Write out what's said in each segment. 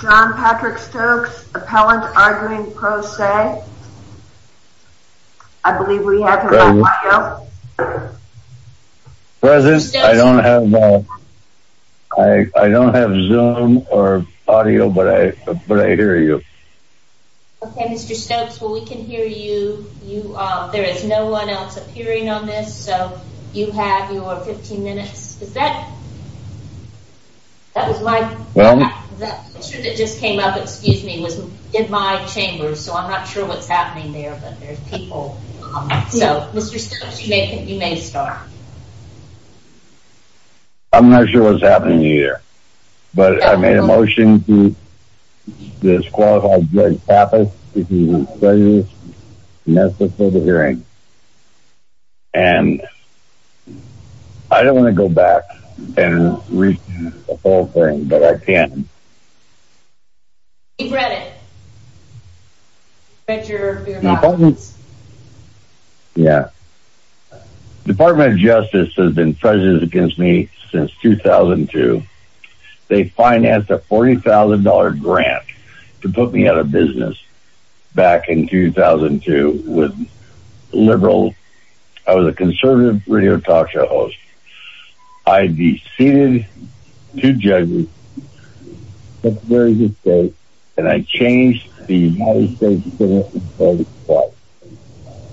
John Patrick Stokes, appellant arguing pro se. I believe we have him on audio. President, I don't have Zoom or audio, but I hear you. Okay, Mr. Stokes, well, we can hear you. There is no one else appearing on this, so you have your 15 minutes. That was my picture that just came up, excuse me, was in my chamber, so I'm not sure what's happening there, but there's people. So, Mr. Stokes, you may start. I'm not sure what's happening either, but I made a motion to disqualify Judge Tappas from the hearing. And I don't want to go back and redo the whole thing, but I can. Department of Justice has been prejudiced against me since 2002. They financed a $40,000 grant to put me out of business back in 2002 with liberals. I was a conservative radio talk show host. I deceded to judges. And I changed the United States Constitution.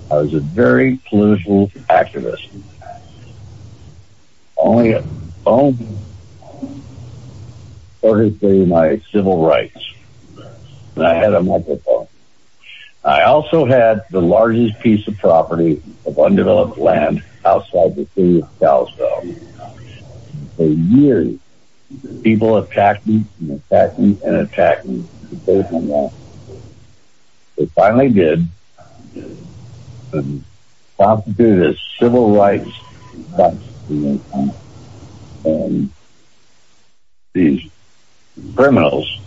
I was a very political activist. I had only my civil rights. I also had the largest piece of property of undeveloped land outside the city of Charlottesville. For years, people attacked me and attacked me and attacked me. They finally did. They prosecuted us for civil rights violations. And these criminals,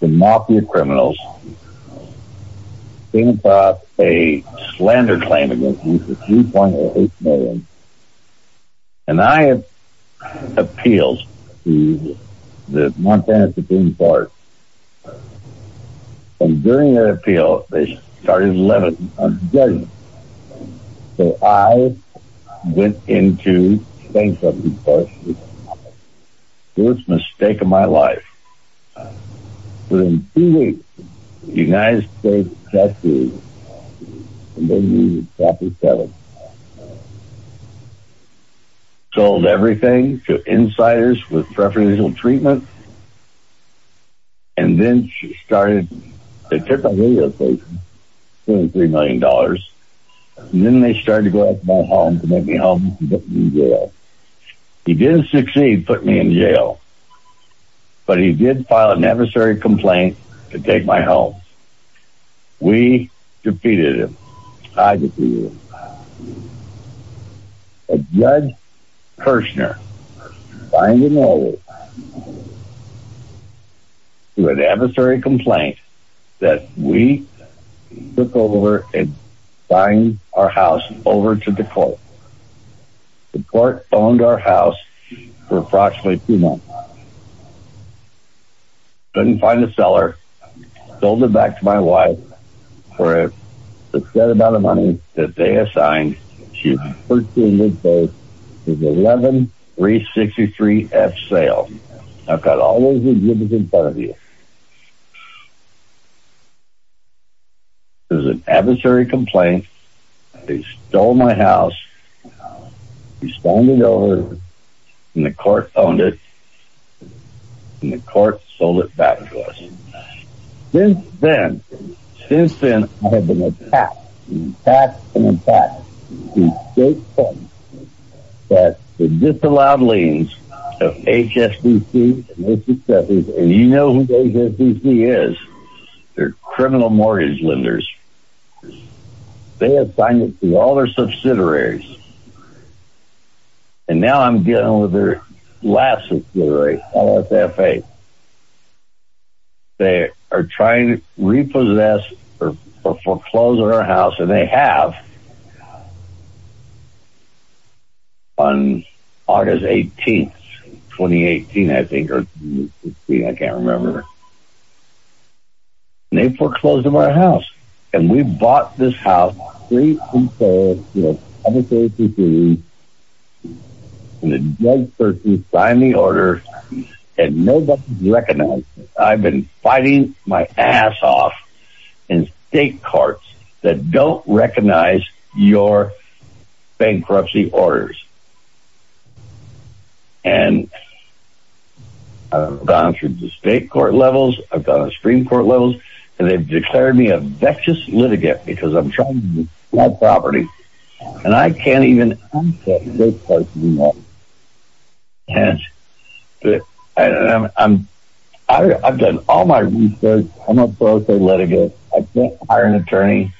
the mafia criminals, came up with a slander claim against me for $3.8 million. And I appealed to the Montana Supreme Court. And during their appeal, they started levying on judges. So I went into state court. First mistake of my life. So in two weeks, the United States Justice, and they used Chapter 7, sold everything to insiders with preferential treatment. And then they took my radio station for $3 million. And then they started to go after my home to make me homeless and put me in jail. He didn't succeed, put me in jail. But he did file an adversary complaint to take my home. We defeated him. I defeated him. A judge, Kirchner, signed an order to an adversary complaint that we took over and signed our house over to the court. The court owned our house for approximately two months. Couldn't find a seller. Sold it back to my wife for a set amount of money that they assigned. She was 13 years old. It was 11-363-F-SALE. I've got all those agreements in front of you. It was an adversary complaint. They stole my house. They stoned it over. And the court owned it. And the court sold it back to us. Since then, since then, I have been attacked, attacked, and attacked. It's a great point. But the disallowed liens of HSBC and Mississippi, and you know who HSBC is. They're criminal mortgage lenders. They assigned it to all their subsidiaries. And now I'm dealing with their last subsidiary, LSFA. They are trying to repossess or foreclose our house. And they have. On August 18, 2018, I think. I can't remember. And they foreclosed on our house. And we bought this house. And the judge personally signed the order. And nobody recognized it. I've been fighting my ass off in state courts that don't recognize your bankruptcy orders. And I've gone through the state court levels. I've gone to Supreme Court levels. And they've declared me a vexed litigant. Because I'm trying to sell property. And I can't even. I've done all my research. I'm a foreclosed litigant. I can't hire an attorney.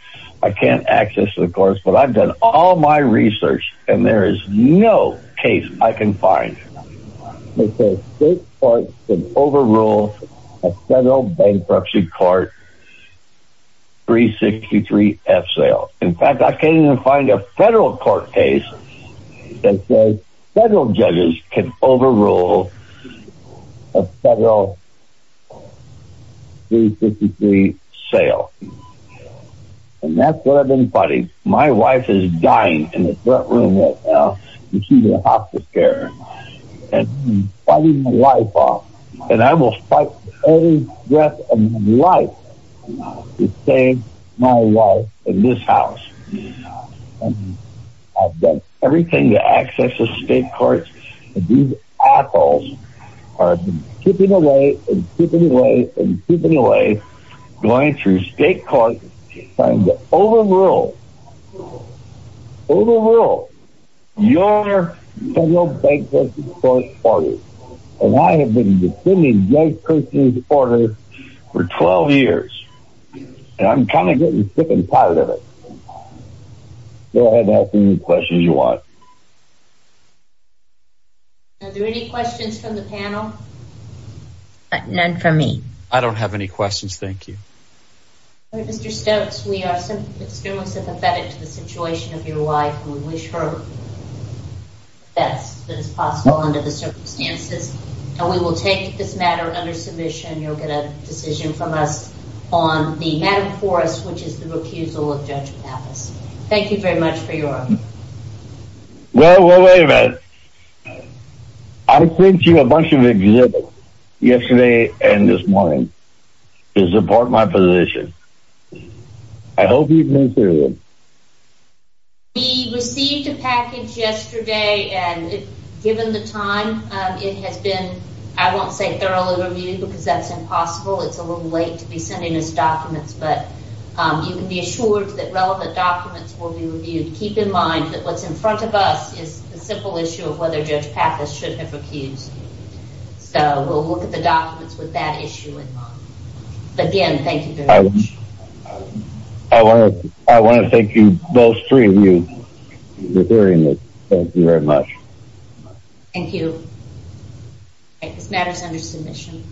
I can't access the courts. But I've done all my research. And there is no case I can find that says state courts can overrule a federal bankruptcy court 363-F sale. In fact, I can't even find a federal court case that says federal judges can overrule a federal 363 sale. And that's what I've been fighting. My wife is dying in the front room right now. She's in hospital care. And I'm fighting my life off. And I will fight for the rest of my life to save my wife and this house. I've done everything to access the state courts. And these assholes are keeping away and keeping away and keeping away. Going through state courts. Trying to overrule. Overrule. Your federal bankruptcy court order. And I have been defending this person's order for 12 years. And I'm kind of getting sick and tired of it. Go ahead and ask me any questions you want. Are there any questions from the panel? None from me. I don't have any questions, thank you. Mr. Stokes, we are extremely sympathetic to the situation of your wife. We wish her the best that is possible under the circumstances. And we will take this matter under submission. You'll get a decision from us on the matter before us, which is the refusal of Judge Pappas. Thank you very much for your... Well, wait a minute. I sent you a bunch of exhibits yesterday and this morning to support my position. I hope you've been serious. We received a package yesterday. And given the time, it has been, I won't say thoroughly reviewed because that's impossible. It's a little late to be sending us documents. But you can be assured that relevant documents will be reviewed. Keep in mind that what's in front of us is the simple issue of whether Judge Pappas should have accused you. So we'll look at the documents with that issue in mind. Again, thank you very much. I want to thank you, those three of you, for hearing this. Thank you very much. Thank you. This matter is under submission.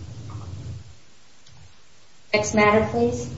Next matter, please.